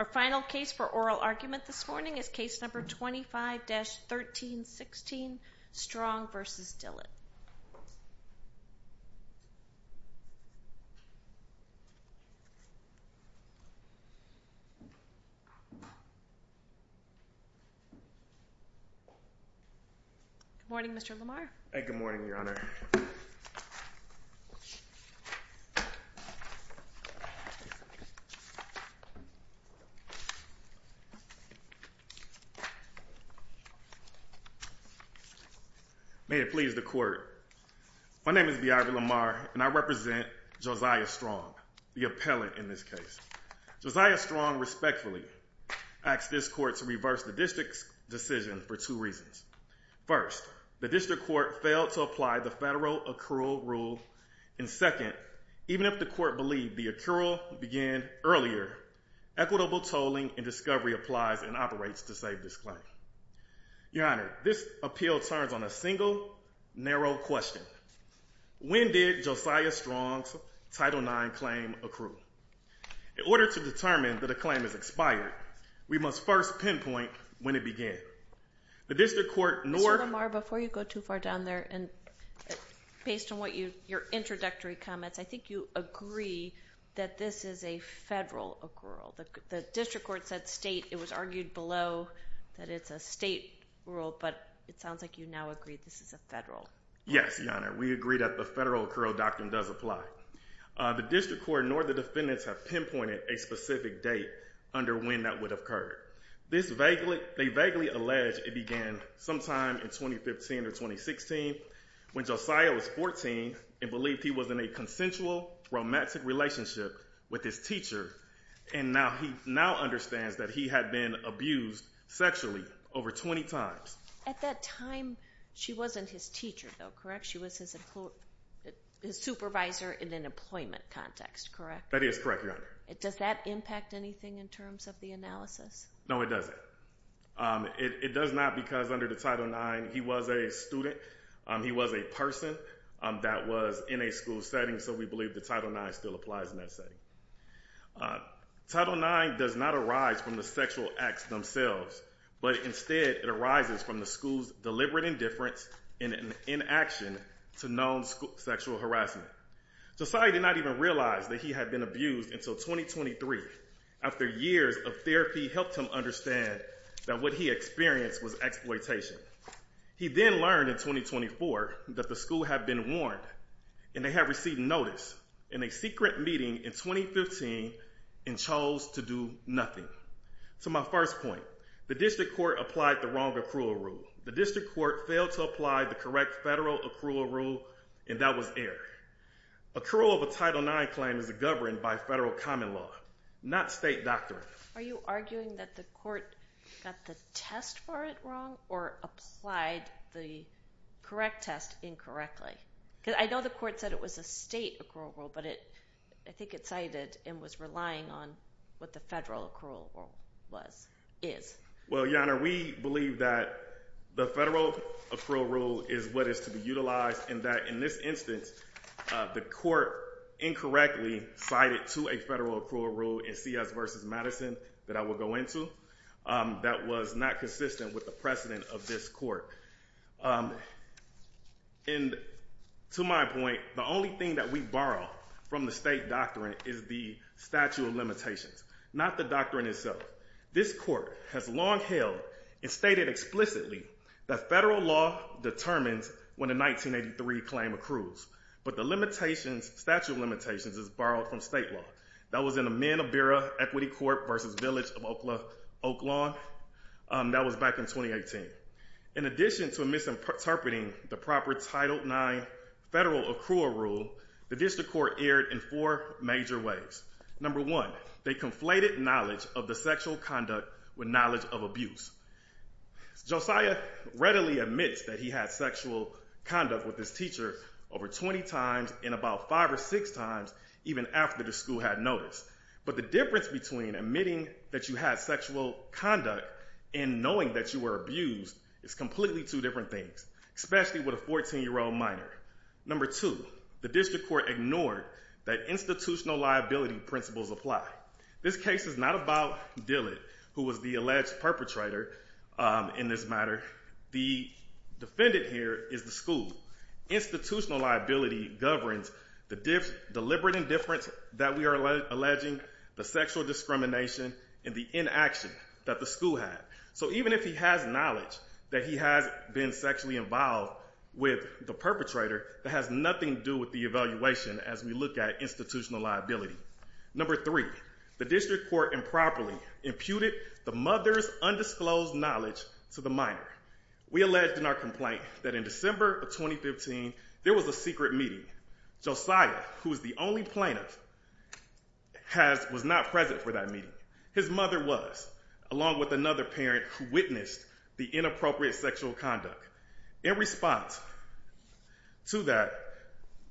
Our final case for oral argument this morning is case number 25-1316 Strong v. Dillett. Good morning, Mr. Lamar. Good morning, Your Honor. May it please the court, my name is Viagra Lamar and I represent Josiah Strong, the appellant in this case. Josiah Strong respectfully asked this court to reverse the district's decision for two reasons. First, the district court failed to apply the federal accrual rule, and second, even if the court believed the accrual began earlier, equitable tolling and discovery applies and operates to save this claim. Your Honor, this appeal turns on a single, narrow question. When did Josiah Strong's Title IX claim accrue? In order to determine that a claim has expired, we must first pinpoint when it began. Mr. Lamar, before you go too far down there, based on your introductory comments, I think you agree that this is a federal accrual. The district court said state. It was argued below that it's a state rule, but it sounds like you now agree this is a federal rule. Yes, Your Honor. We agree that the federal accrual doctrine does apply. The district court nor the defendants have pinpointed a specific date under when that would have occurred. They vaguely allege it began sometime in 2015 or 2016 when Josiah was 14 and believed he was in a consensual, romantic relationship with his teacher, and now understands that he had been abused sexually over 20 times. At that time, she wasn't his teacher, though, correct? She was his supervisor in an employment context, correct? That is correct, Your Honor. Does that impact anything in terms of the analysis? No, it doesn't. It does not because under the Title IX, he was a student. He was a person that was in a school setting, so we believe the Title IX still applies in that setting. Title IX does not arise from the sexual acts themselves, but instead it arises from the school's deliberate indifference and inaction to known sexual harassment. Josiah did not even realize that he had been abused until 2023 after years of therapy helped him understand that what he experienced was exploitation. He then learned in 2024 that the school had been warned and they had received notice in a secret meeting in 2015 and chose to do nothing. To my first point, the district court applied the wrong accrual rule. The district court failed to apply the correct federal accrual rule, and that was error. Accrual of a Title IX claim is governed by federal common law, not state doctrine. Are you arguing that the court got the test for it wrong or applied the correct test incorrectly? Because I know the court said it was a state accrual rule, but I think it cited and was relying on what the federal accrual rule was, is. Well, Your Honor, we believe that the federal accrual rule is what is to be utilized and that in this instance, the court incorrectly cited to a federal accrual rule in C.S. v. Madison that I will go into that was not consistent with the precedent of this court. And to my point, the only thing that we borrow from the state doctrine is the statute of limitations, not the doctrine itself. This court has long held and stated explicitly that federal law determines when a 1983 claim accrues. But the limitations, statute of limitations, is borrowed from state law. That was in the Men of Bureau Equity Court v. Village of Oak Lawn. That was back in 2018. In addition to misinterpreting the proper Title IX federal accrual rule, the district court erred in four major ways. Number one, they conflated knowledge of the sexual conduct with knowledge of abuse. Josiah readily admits that he had sexual conduct with his teacher over 20 times and about five or six times even after the school had noticed. But the difference between admitting that you had sexual conduct and knowing that you were abused is completely two different things, especially with a 14-year-old minor. Number two, the district court ignored that institutional liability principles apply. This case is not about Dillard, who was the alleged perpetrator in this matter. The defendant here is the school. Institutional liability governs the deliberate indifference that we are alleging, the sexual discrimination, and the inaction that the school had. So even if he has knowledge that he has been sexually involved with the perpetrator, that has nothing to do with the evaluation as we look at institutional liability. Number three, the district court improperly imputed the mother's undisclosed knowledge to the minor. We alleged in our complaint that in December of 2015, there was a secret meeting. Josiah, who is the only plaintiff, was not present for that meeting. His mother was, along with another parent who witnessed the inappropriate sexual conduct. In response to that,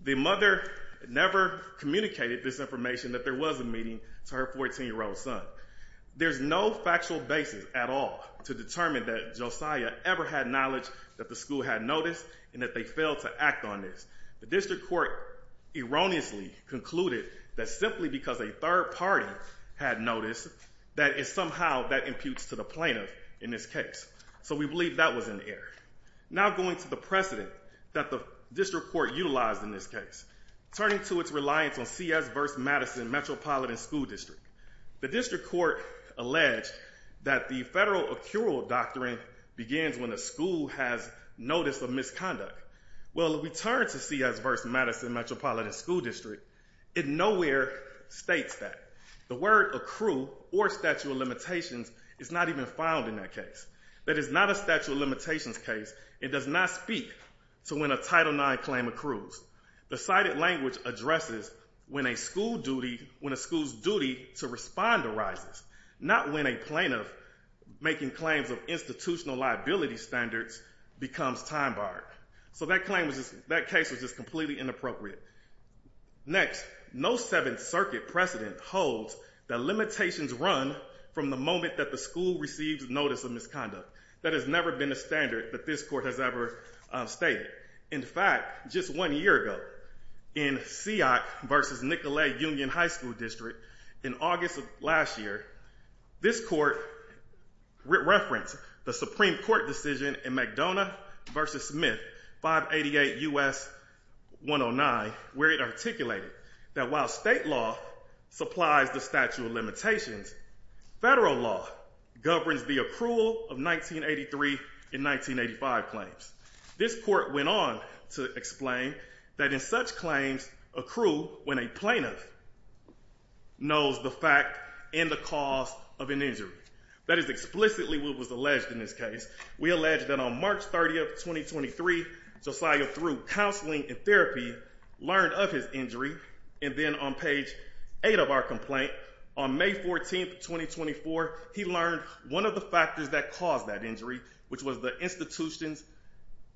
the mother never communicated this information that there was a meeting to her 14-year-old son. There's no factual basis at all to determine that Josiah ever had knowledge that the school had noticed and that they failed to act on this. The district court erroneously concluded that simply because a third party had noticed, that somehow that imputes to the plaintiff in this case. So we believe that was an error. Now going to the precedent that the district court utilized in this case, turning to its reliance on CS versus Madison Metropolitan School District. The district court alleged that the federal accrual doctrine begins when a school has notice of misconduct. Well, if we turn to CS versus Madison Metropolitan School District, it nowhere states that. The word accrue or statute of limitations is not even found in that case. That is not a statute of limitations case. It does not speak to when a Title IX claim accrues. The cited language addresses when a school's duty to respond arises, not when a plaintiff making claims of institutional liability standards becomes time barred. So that case was just completely inappropriate. Next, no Seventh Circuit precedent holds that limitations run from the moment that the school receives notice of misconduct. That has never been a standard that this court has ever stated. In fact, just one year ago, in Seat versus Nicolet Union High School District, in August of last year, this court referenced the Supreme Court decision in McDonough versus Smith, 588 U.S. 109, where it articulated that while state law supplies the statute of limitations, federal law governs the accrual of 1983 and 1985 claims. This court went on to explain that in such claims accrue when a plaintiff knows the fact and the cause of an injury. That is explicitly what was alleged in this case. We allege that on March 30th, 2023, Josiah, through counseling and therapy, learned of his injury. And then on page eight of our complaint, on May 14th, 2024, he learned one of the factors that caused that injury, which was the institution's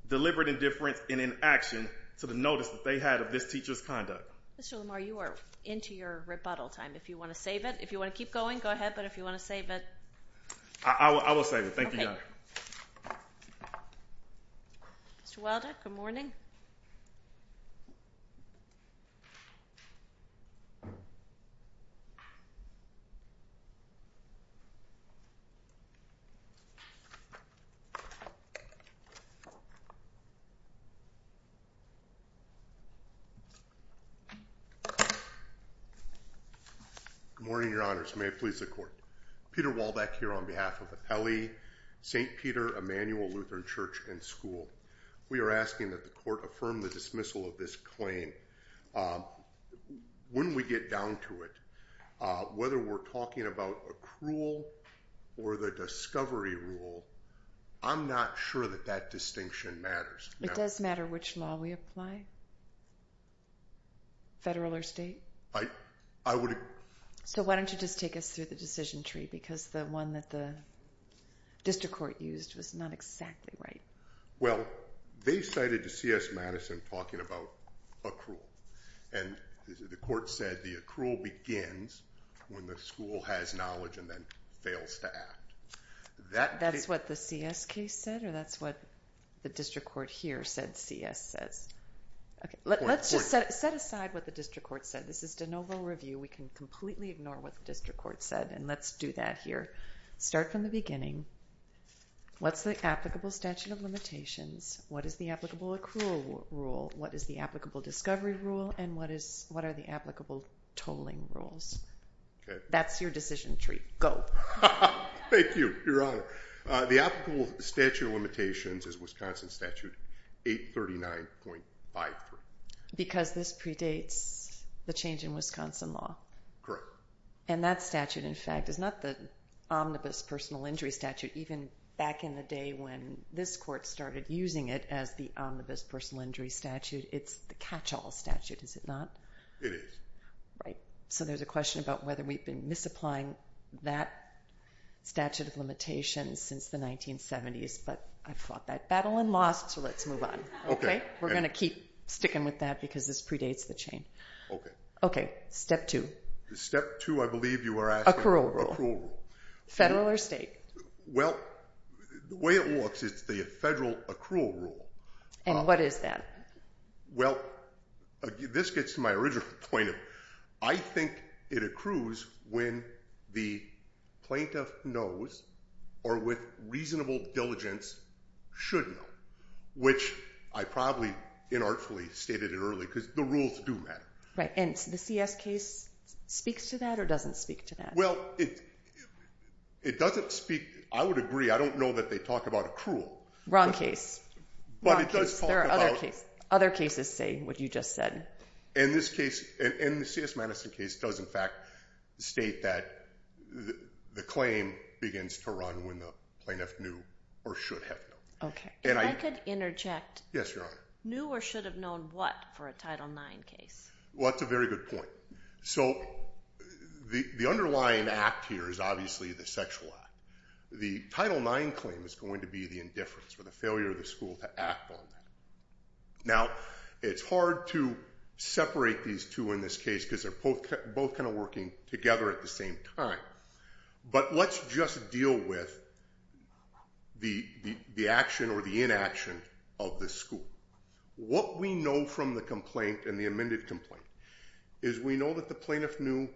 deliberate indifference and inaction to the notice that they had of this teacher's conduct. Mr. Lamar, you are into your rebuttal time. If you want to save it, if you want to keep going, go ahead. But if you want to save it. I will save it. Thank you, Your Honor. Mr. Waldeck, good morning. Good morning, Your Honors. May it please the Court. Peter Waldeck here on behalf of the Pele, St. Peter, Emanuel Lutheran Church and School. We are asking that the Court affirm the dismissal of this claim. When we get down to it, whether we're talking about accrual or the discovery rule, I'm not sure that that distinction matters. It does matter which law we apply? Federal or state? So why don't you just take us through the decision tree? Because the one that the district court used was not exactly right. Well, they cited the C.S. Madison talking about accrual. And the Court said the accrual begins when the school has knowledge and then fails to act. That's what the C.S. case said? Or that's what the district court here said C.S. says? Let's just set aside what the district court said. This is de novo review. We can completely ignore what the district court said, and let's do that here. Start from the beginning. What's the applicable statute of limitations? What is the applicable accrual rule? What is the applicable discovery rule? And what are the applicable tolling rules? That's your decision tree. Go. Thank you, Your Honor. The applicable statute of limitations is Wisconsin Statute 839.53. Because this predates the change in Wisconsin law? And that statute, in fact, is not the omnibus personal injury statute, even back in the day when this Court started using it as the omnibus personal injury statute. It's the catch-all statute, is it not? It is. Right. So there's a question about whether we've been misapplying that statute of limitations since the 1970s, but I fought that battle and lost, so let's move on. Okay. We're going to keep sticking with that because this predates the change. Okay. Okay. Step two. Step two, I believe you were asking. Accrual rule. Accrual rule. Federal or state? Well, the way it works is the federal accrual rule. And what is that? Well, this gets to my original point. I think it accrues when the plaintiff knows or with reasonable diligence should know, which I probably inartfully stated it early because the rules do matter. Right. And the CS case speaks to that or doesn't speak to that? Well, it doesn't speak. I would agree. I don't know that they talk about accrual. Wrong case. Wrong case. There are other cases saying what you just said. And the CS Madison case does, in fact, state that the claim begins to run when the plaintiff knew or should have known. Okay. If I could interject. Yes, Your Honor. Knew or should have known what for a Title IX case? Well, that's a very good point. So the underlying act here is obviously the sexual act. The Title IX claim is going to be the indifference or the failure of the school to act on that. Now, it's hard to separate these two in this case because they're both kind of working together at the same time. But let's just deal with the action or the inaction of the school. What we know from the complaint and the amended complaint is we know that the plaintiff knew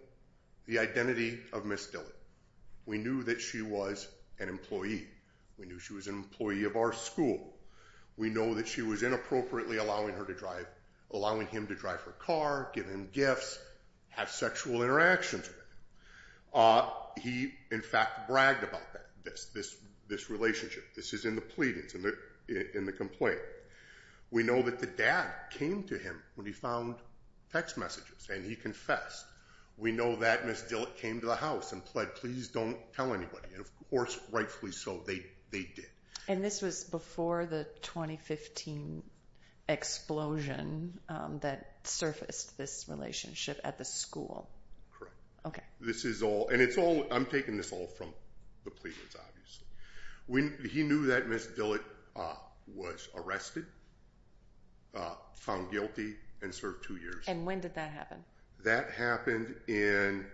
the identity of Ms. Dillard. We knew that she was an employee. We knew she was an employee of our school. We know that she was inappropriately allowing him to drive her car, give him gifts, have sexual interactions with him. He, in fact, bragged about that, this relationship. This is in the pleadings, in the complaint. We know that the dad came to him when he found text messages and he confessed. We know that Ms. Dillard came to the house and pled, please don't tell anybody. And, of course, rightfully so, they did. And this was before the 2015 explosion that surfaced this relationship at the school? Correct. Okay. This is all, and it's all, I'm taking this all from the pleadings, obviously. He knew that Ms. Dillard was arrested, found guilty, and served two years. And when did that happen? That happened in.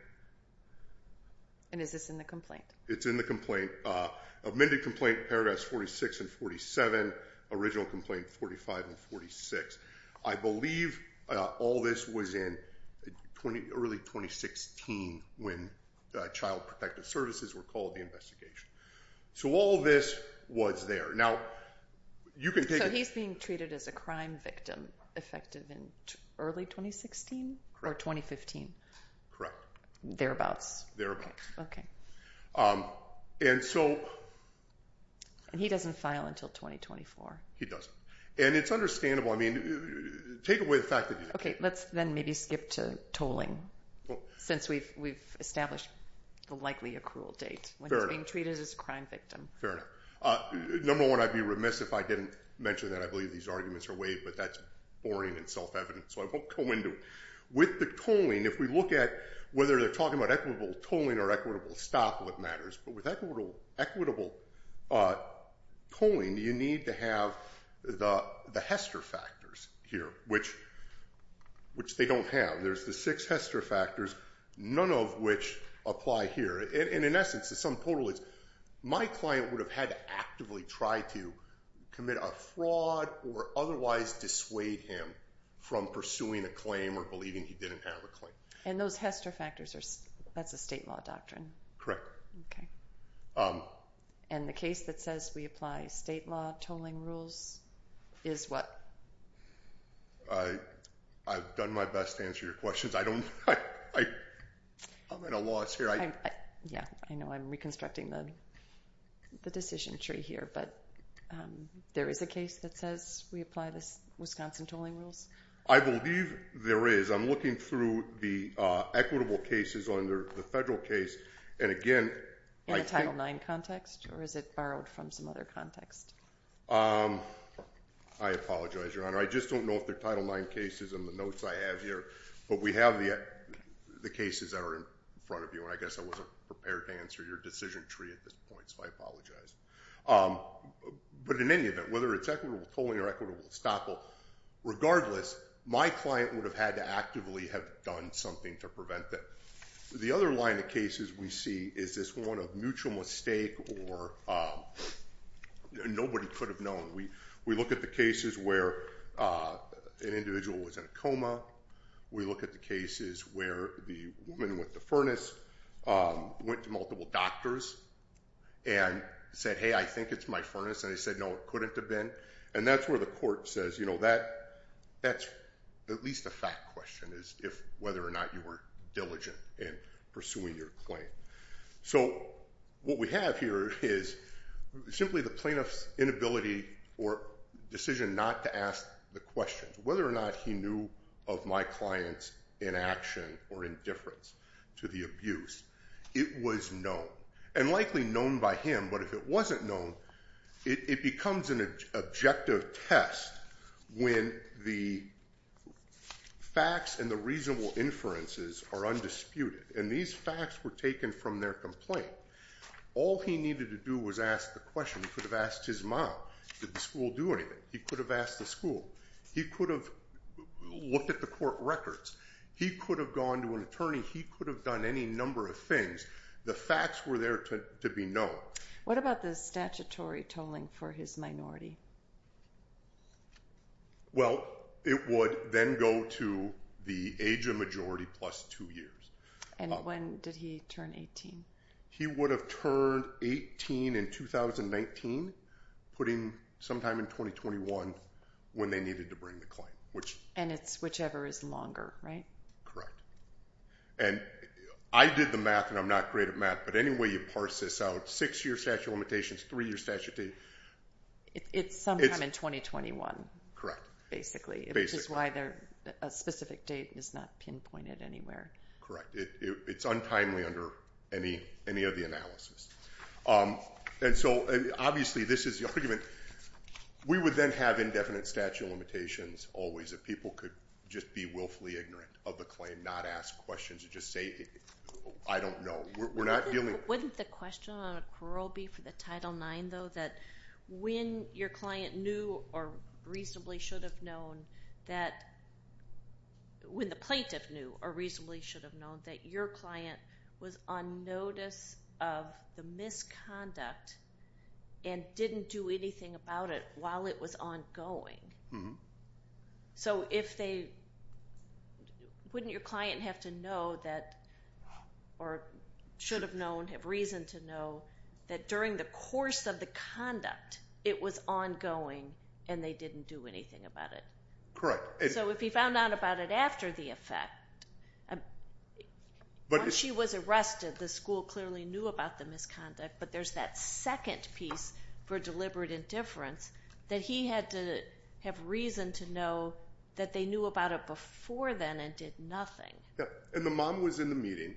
And is this in the complaint? It's in the complaint. Amended complaint paragraphs 46 and 47. Original complaint 45 and 46. I believe all this was in early 2016 when Child Protective Services were called the investigation. So all this was there. Now, you can take it. He was being treated as a crime victim effective in early 2016 or 2015? Thereabouts? Okay. And so. And he doesn't file until 2024? He doesn't. And it's understandable. I mean, take away the fact that he. Okay, let's then maybe skip to tolling since we've established likely a cruel date. Fair enough. When he's being treated as a crime victim. Fair enough. Number one, I'd be remiss if I didn't mention that. I believe these arguments are waived, but that's boring and self-evident, so I won't go into it. With the tolling, if we look at whether they're talking about equitable tolling or equitable stop, what matters? But with equitable tolling, you need to have the Hester factors here, which they don't have. There's the six Hester factors, none of which apply here. And in essence, the sum total is my client would have had to actively try to commit a fraud or otherwise dissuade him from pursuing a claim or believing he didn't have a claim. And those Hester factors, that's a state law doctrine? Correct. Okay. And the case that says we apply state law tolling rules is what? I've done my best to answer your questions. I don't. I'm at a loss here. I know I'm reconstructing the decision tree here, but there is a case that says we apply the Wisconsin tolling rules? I believe there is. I'm looking through the equitable cases under the federal case, and again. In the Title IX context, or is it borrowed from some other context? I apologize, Your Honor. I just don't know if they're Title IX cases in the notes I have here, but we have the cases that are in front of you, and I guess I wasn't prepared to answer your decision tree at this point, so I apologize. But in any event, whether it's equitable tolling or equitable estoppel, regardless, my client would have had to actively have done something to prevent that. The other line of cases we see is this one of mutual mistake or nobody could have known. We look at the cases where an individual was in a coma. We look at the cases where the woman with the furnace went to multiple doctors and said, hey, I think it's my furnace, and they said, no, it couldn't have been. And that's where the court says, you know, that's at least a fact question is whether or not you were diligent in pursuing your claim. So what we have here is simply the plaintiff's inability or decision not to ask the question, whether or not he knew of my client's inaction or indifference to the abuse. It was known, and likely known by him, but if it wasn't known, it becomes an objective test when the facts and the reasonable inferences are undisputed. And these facts were taken from their complaint. All he needed to do was ask the question. He could have asked his mom, did the school do anything? He could have asked the school. He could have looked at the court records. He could have gone to an attorney. He could have done any number of things. The facts were there to be known. What about the statutory tolling for his minority? Well, it would then go to the age of majority plus two years. And when did he turn 18? He would have turned 18 in 2019, putting sometime in 2021 when they needed to bring the claim. And it's whichever is longer, right? Correct. And I did the math, and I'm not great at math, but any way you parse this out, six-year statute of limitations, three-year statute of limitations, It's sometime in 2021. Basically, which is why a specific date is not pinpointed anywhere. Correct. It's untimely under any of the analysis. And so, obviously, this is the argument. We would then have indefinite statute of limitations always if people could just be willfully ignorant of the claim, not ask questions and just say, I don't know. Wouldn't the question on a parole be for the Title IX, though, that when your client knew or reasonably should have known that, when the plaintiff knew or reasonably should have known that your client was on notice of the misconduct and didn't do anything about it while it was ongoing? Mm-hmm. So wouldn't your client have to know that, or should have known, have reason to know, that during the course of the conduct, it was ongoing and they didn't do anything about it? Correct. So if he found out about it after the effect, once she was arrested, the school clearly knew about the misconduct, but there's that second piece for deliberate indifference that he had to have reason to know that they knew about it before then and did nothing. And the mom was in the meeting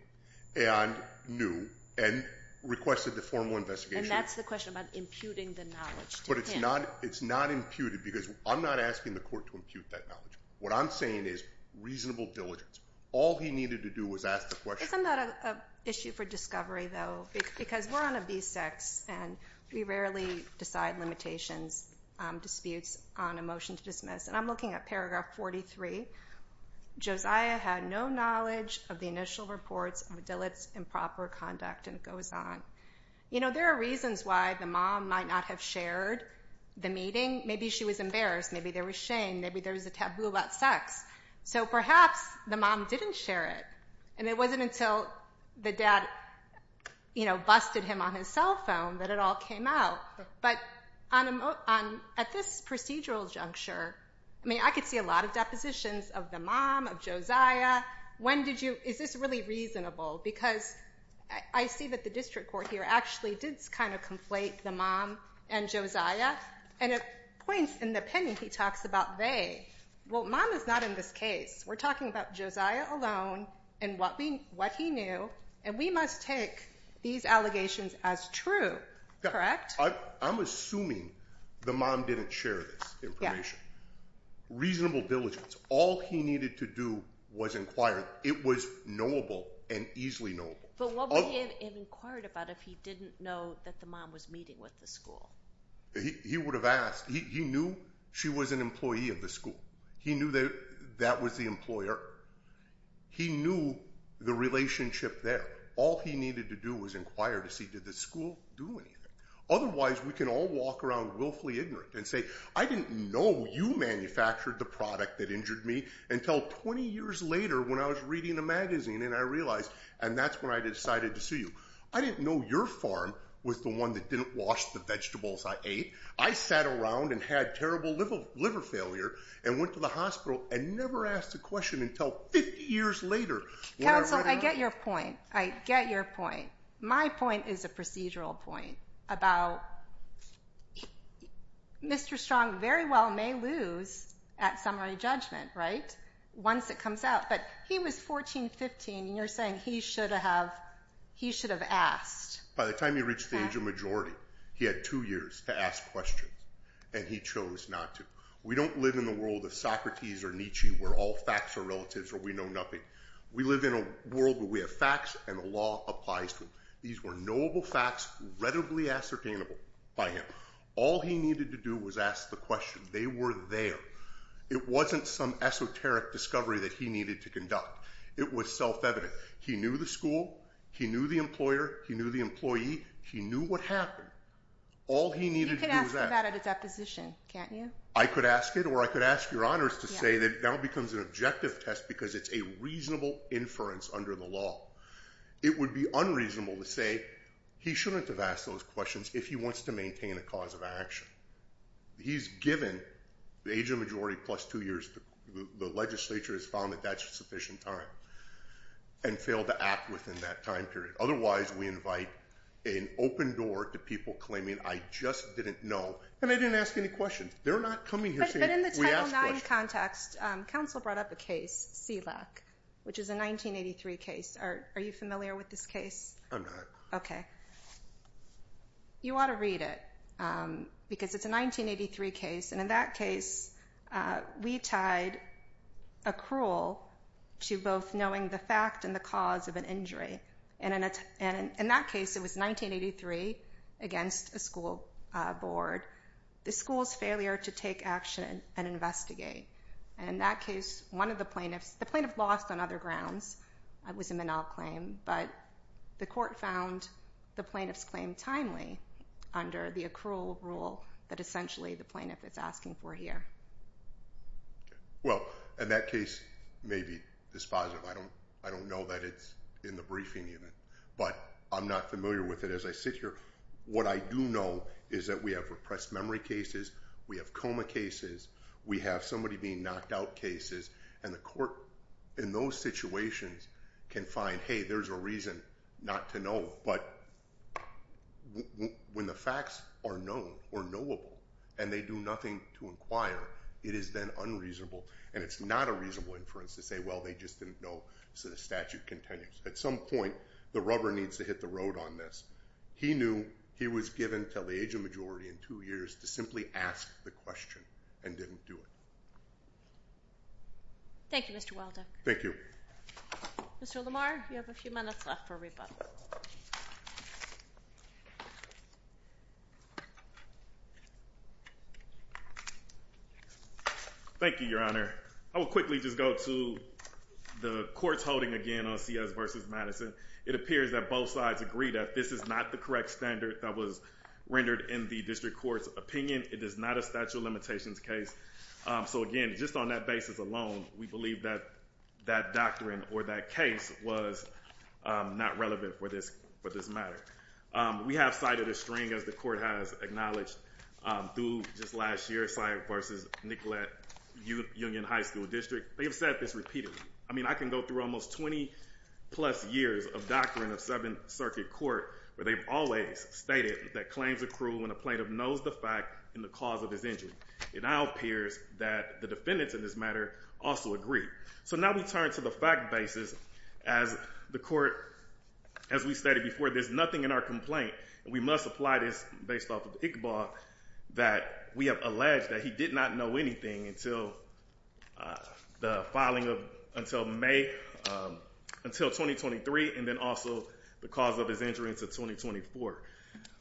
and knew and requested the formal investigation. And that's the question about imputing the knowledge to him. But it's not imputed, because I'm not asking the court to impute that knowledge. What I'm saying is reasonable diligence. All he needed to do was ask the question. Isn't that an issue for discovery, though? Because we're on a B6, and we rarely decide limitations, disputes on a motion to dismiss. And I'm looking at paragraph 43. Josiah had no knowledge of the initial reports of Dilett's improper conduct. And it goes on. You know, there are reasons why the mom might not have shared the meeting. Maybe she was embarrassed. Maybe there was shame. Maybe there was a taboo about sex. So perhaps the mom didn't share it, and it wasn't until the dad, you know, busted him on his cell phone that it all came out. But at this procedural juncture, I mean, I could see a lot of depositions of the mom, of Josiah. Is this really reasonable? Because I see that the district court here actually did kind of conflate the mom and Josiah. And it points in the opinion he talks about they. Well, mom is not in this case. We're talking about Josiah alone and what he knew, and we must take these allegations as true. Correct? I'm assuming the mom didn't share this information. Yeah. Reasonable diligence. All he needed to do was inquire. It was knowable and easily knowable. But what would he have inquired about if he didn't know that the mom was meeting with the school? He would have asked. He knew she was an employee of the school. He knew that that was the employer. He knew the relationship there. All he needed to do was inquire to see did the school do anything. Otherwise, we can all walk around willfully ignorant and say, I didn't know you manufactured the product that injured me until 20 years later when I was reading a magazine, and I realized, and that's when I decided to sue you. I didn't know your farm was the one that didn't wash the vegetables I ate. I sat around and had terrible liver failure and went to the hospital and never asked a question until 50 years later. Counsel, I get your point. I get your point. My point is a procedural point about Mr. Strong very well may lose at summary judgment, right, once it comes out. But he was 14, 15, and you're saying he should have asked. By the time he reached the age of majority, he had two years to ask questions, and he chose not to. We don't live in the world of Socrates or Nietzsche where all facts are relative or we know nothing. We live in a world where we have facts and the law applies to them. These were knowable facts, relatively ascertainable by him. All he needed to do was ask the question. They were there. It wasn't some esoteric discovery that he needed to conduct. It was self-evident. He knew the school. He knew the employer. He knew the employee. He knew what happened. All he needed to do was ask. You could ask for that at a deposition, can't you? I could ask it or I could ask Your Honors to say that it now becomes an objective test because it's a reasonable inference under the law. It would be unreasonable to say he shouldn't have asked those questions if he wants to maintain a cause of action. He's given the age of majority plus two years. The legislature has found that that's sufficient time and failed to act within that time period. Otherwise, we invite an open door to people claiming I just didn't know and I didn't ask any questions. They're not coming here saying we asked questions. But in the Title IX context, counsel brought up a case, SELAC, which is a 1983 case. Are you familiar with this case? I'm not. Okay. You ought to read it because it's a 1983 case, and in that case, we tied a cruel to both knowing the fact and the cause of an injury. And in that case, it was 1983 against a school board, the school's failure to take action and investigate. And in that case, one of the plaintiffs, the plaintiff lost on other grounds. It was a Menal claim, but the court found the plaintiff's claim timely under the accrual rule that essentially the plaintiff is asking for here. Well, in that case, maybe it's positive. I don't know that it's in the briefing unit, but I'm not familiar with it as I sit here. What I do know is that we have repressed memory cases. We have coma cases. We have somebody being knocked out cases. And the court in those situations can find, hey, there's a reason not to know. But when the facts are known or knowable and they do nothing to inquire, it is then unreasonable. And it's not a reasonable inference to say, well, they just didn't know, so the statute continues. At some point, the rubber needs to hit the road on this. He knew he was given until the age of majority in two years to simply ask the question and didn't do it. Thank you, Mr. Waldo. Thank you. Mr. Lamar, you have a few minutes left for a rebuttal. Thank you, Your Honor. I will quickly just go to the court's holding again on C.S. v. Madison. It appears that both sides agree that this is not the correct standard that was rendered in the district court's opinion. It is not a statute of limitations case. So, again, just on that basis alone, we believe that that doctrine or that case was not relevant for this matter. We have cited a string, as the court has acknowledged, through just last year's C.S. v. Nicollet Union High School District. They have said this repeatedly. I mean, I can go through almost 20-plus years of doctrine of Seventh Circuit Court where they've always stated that claims accrue when a plaintiff knows the fact and the cause of his injury. It now appears that the defendants in this matter also agree. So now we turn to the fact basis. As the court, as we stated before, there's nothing in our complaint, and we must apply this based off of Iqbal, that we have alleged that he did not know anything until the filing of until May, until 2023, and then also the cause of his injury until 2024.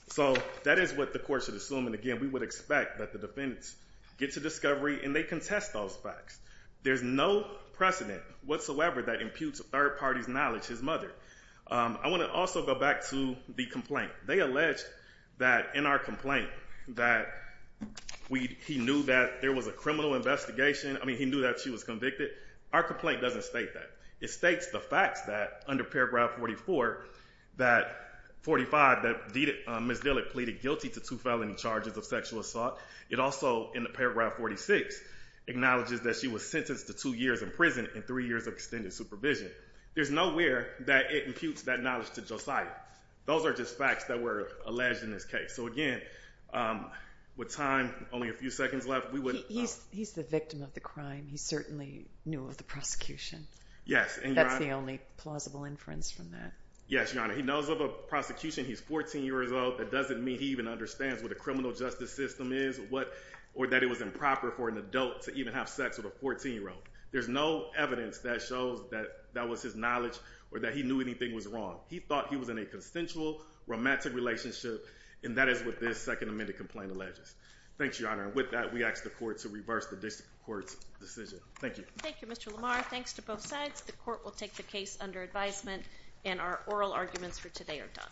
So that is what the court should assume. And, again, we would expect that the defendants get to discovery, and they contest those facts. There's no precedent whatsoever that imputes a third party's knowledge, his mother. I want to also go back to the complaint. They alleged that in our complaint that he knew that there was a criminal investigation. I mean, he knew that she was convicted. Our complaint doesn't state that. It states the facts that, under Paragraph 44, that 45, that Ms. Dillick pleaded guilty to two felony charges of sexual assault. It also, in the Paragraph 46, acknowledges that she was sentenced to two years in prison and three years of extended supervision. There's nowhere that it imputes that knowledge to Josiah. Those are just facts that were alleged in this case. So, again, with time, only a few seconds left, we would— He's the victim of the crime. He certainly knew of the prosecution. That's the only plausible inference from that. Yes, Your Honor. He knows of a prosecution. He's 14 years old. That doesn't mean he even understands what a criminal justice system is or that it was improper for an adult to even have sex with a 14-year-old. There's no evidence that shows that that was his knowledge or that he knew anything was wrong. He thought he was in a consensual, romantic relationship, and that is what this Second Amendment complaint alleges. Thanks, Your Honor. With that, we ask the court to reverse the district court's decision. Thank you. Thank you, Mr. Lamar. Thanks to both sides. The court will take the case under advisement, and our oral arguments for today are done.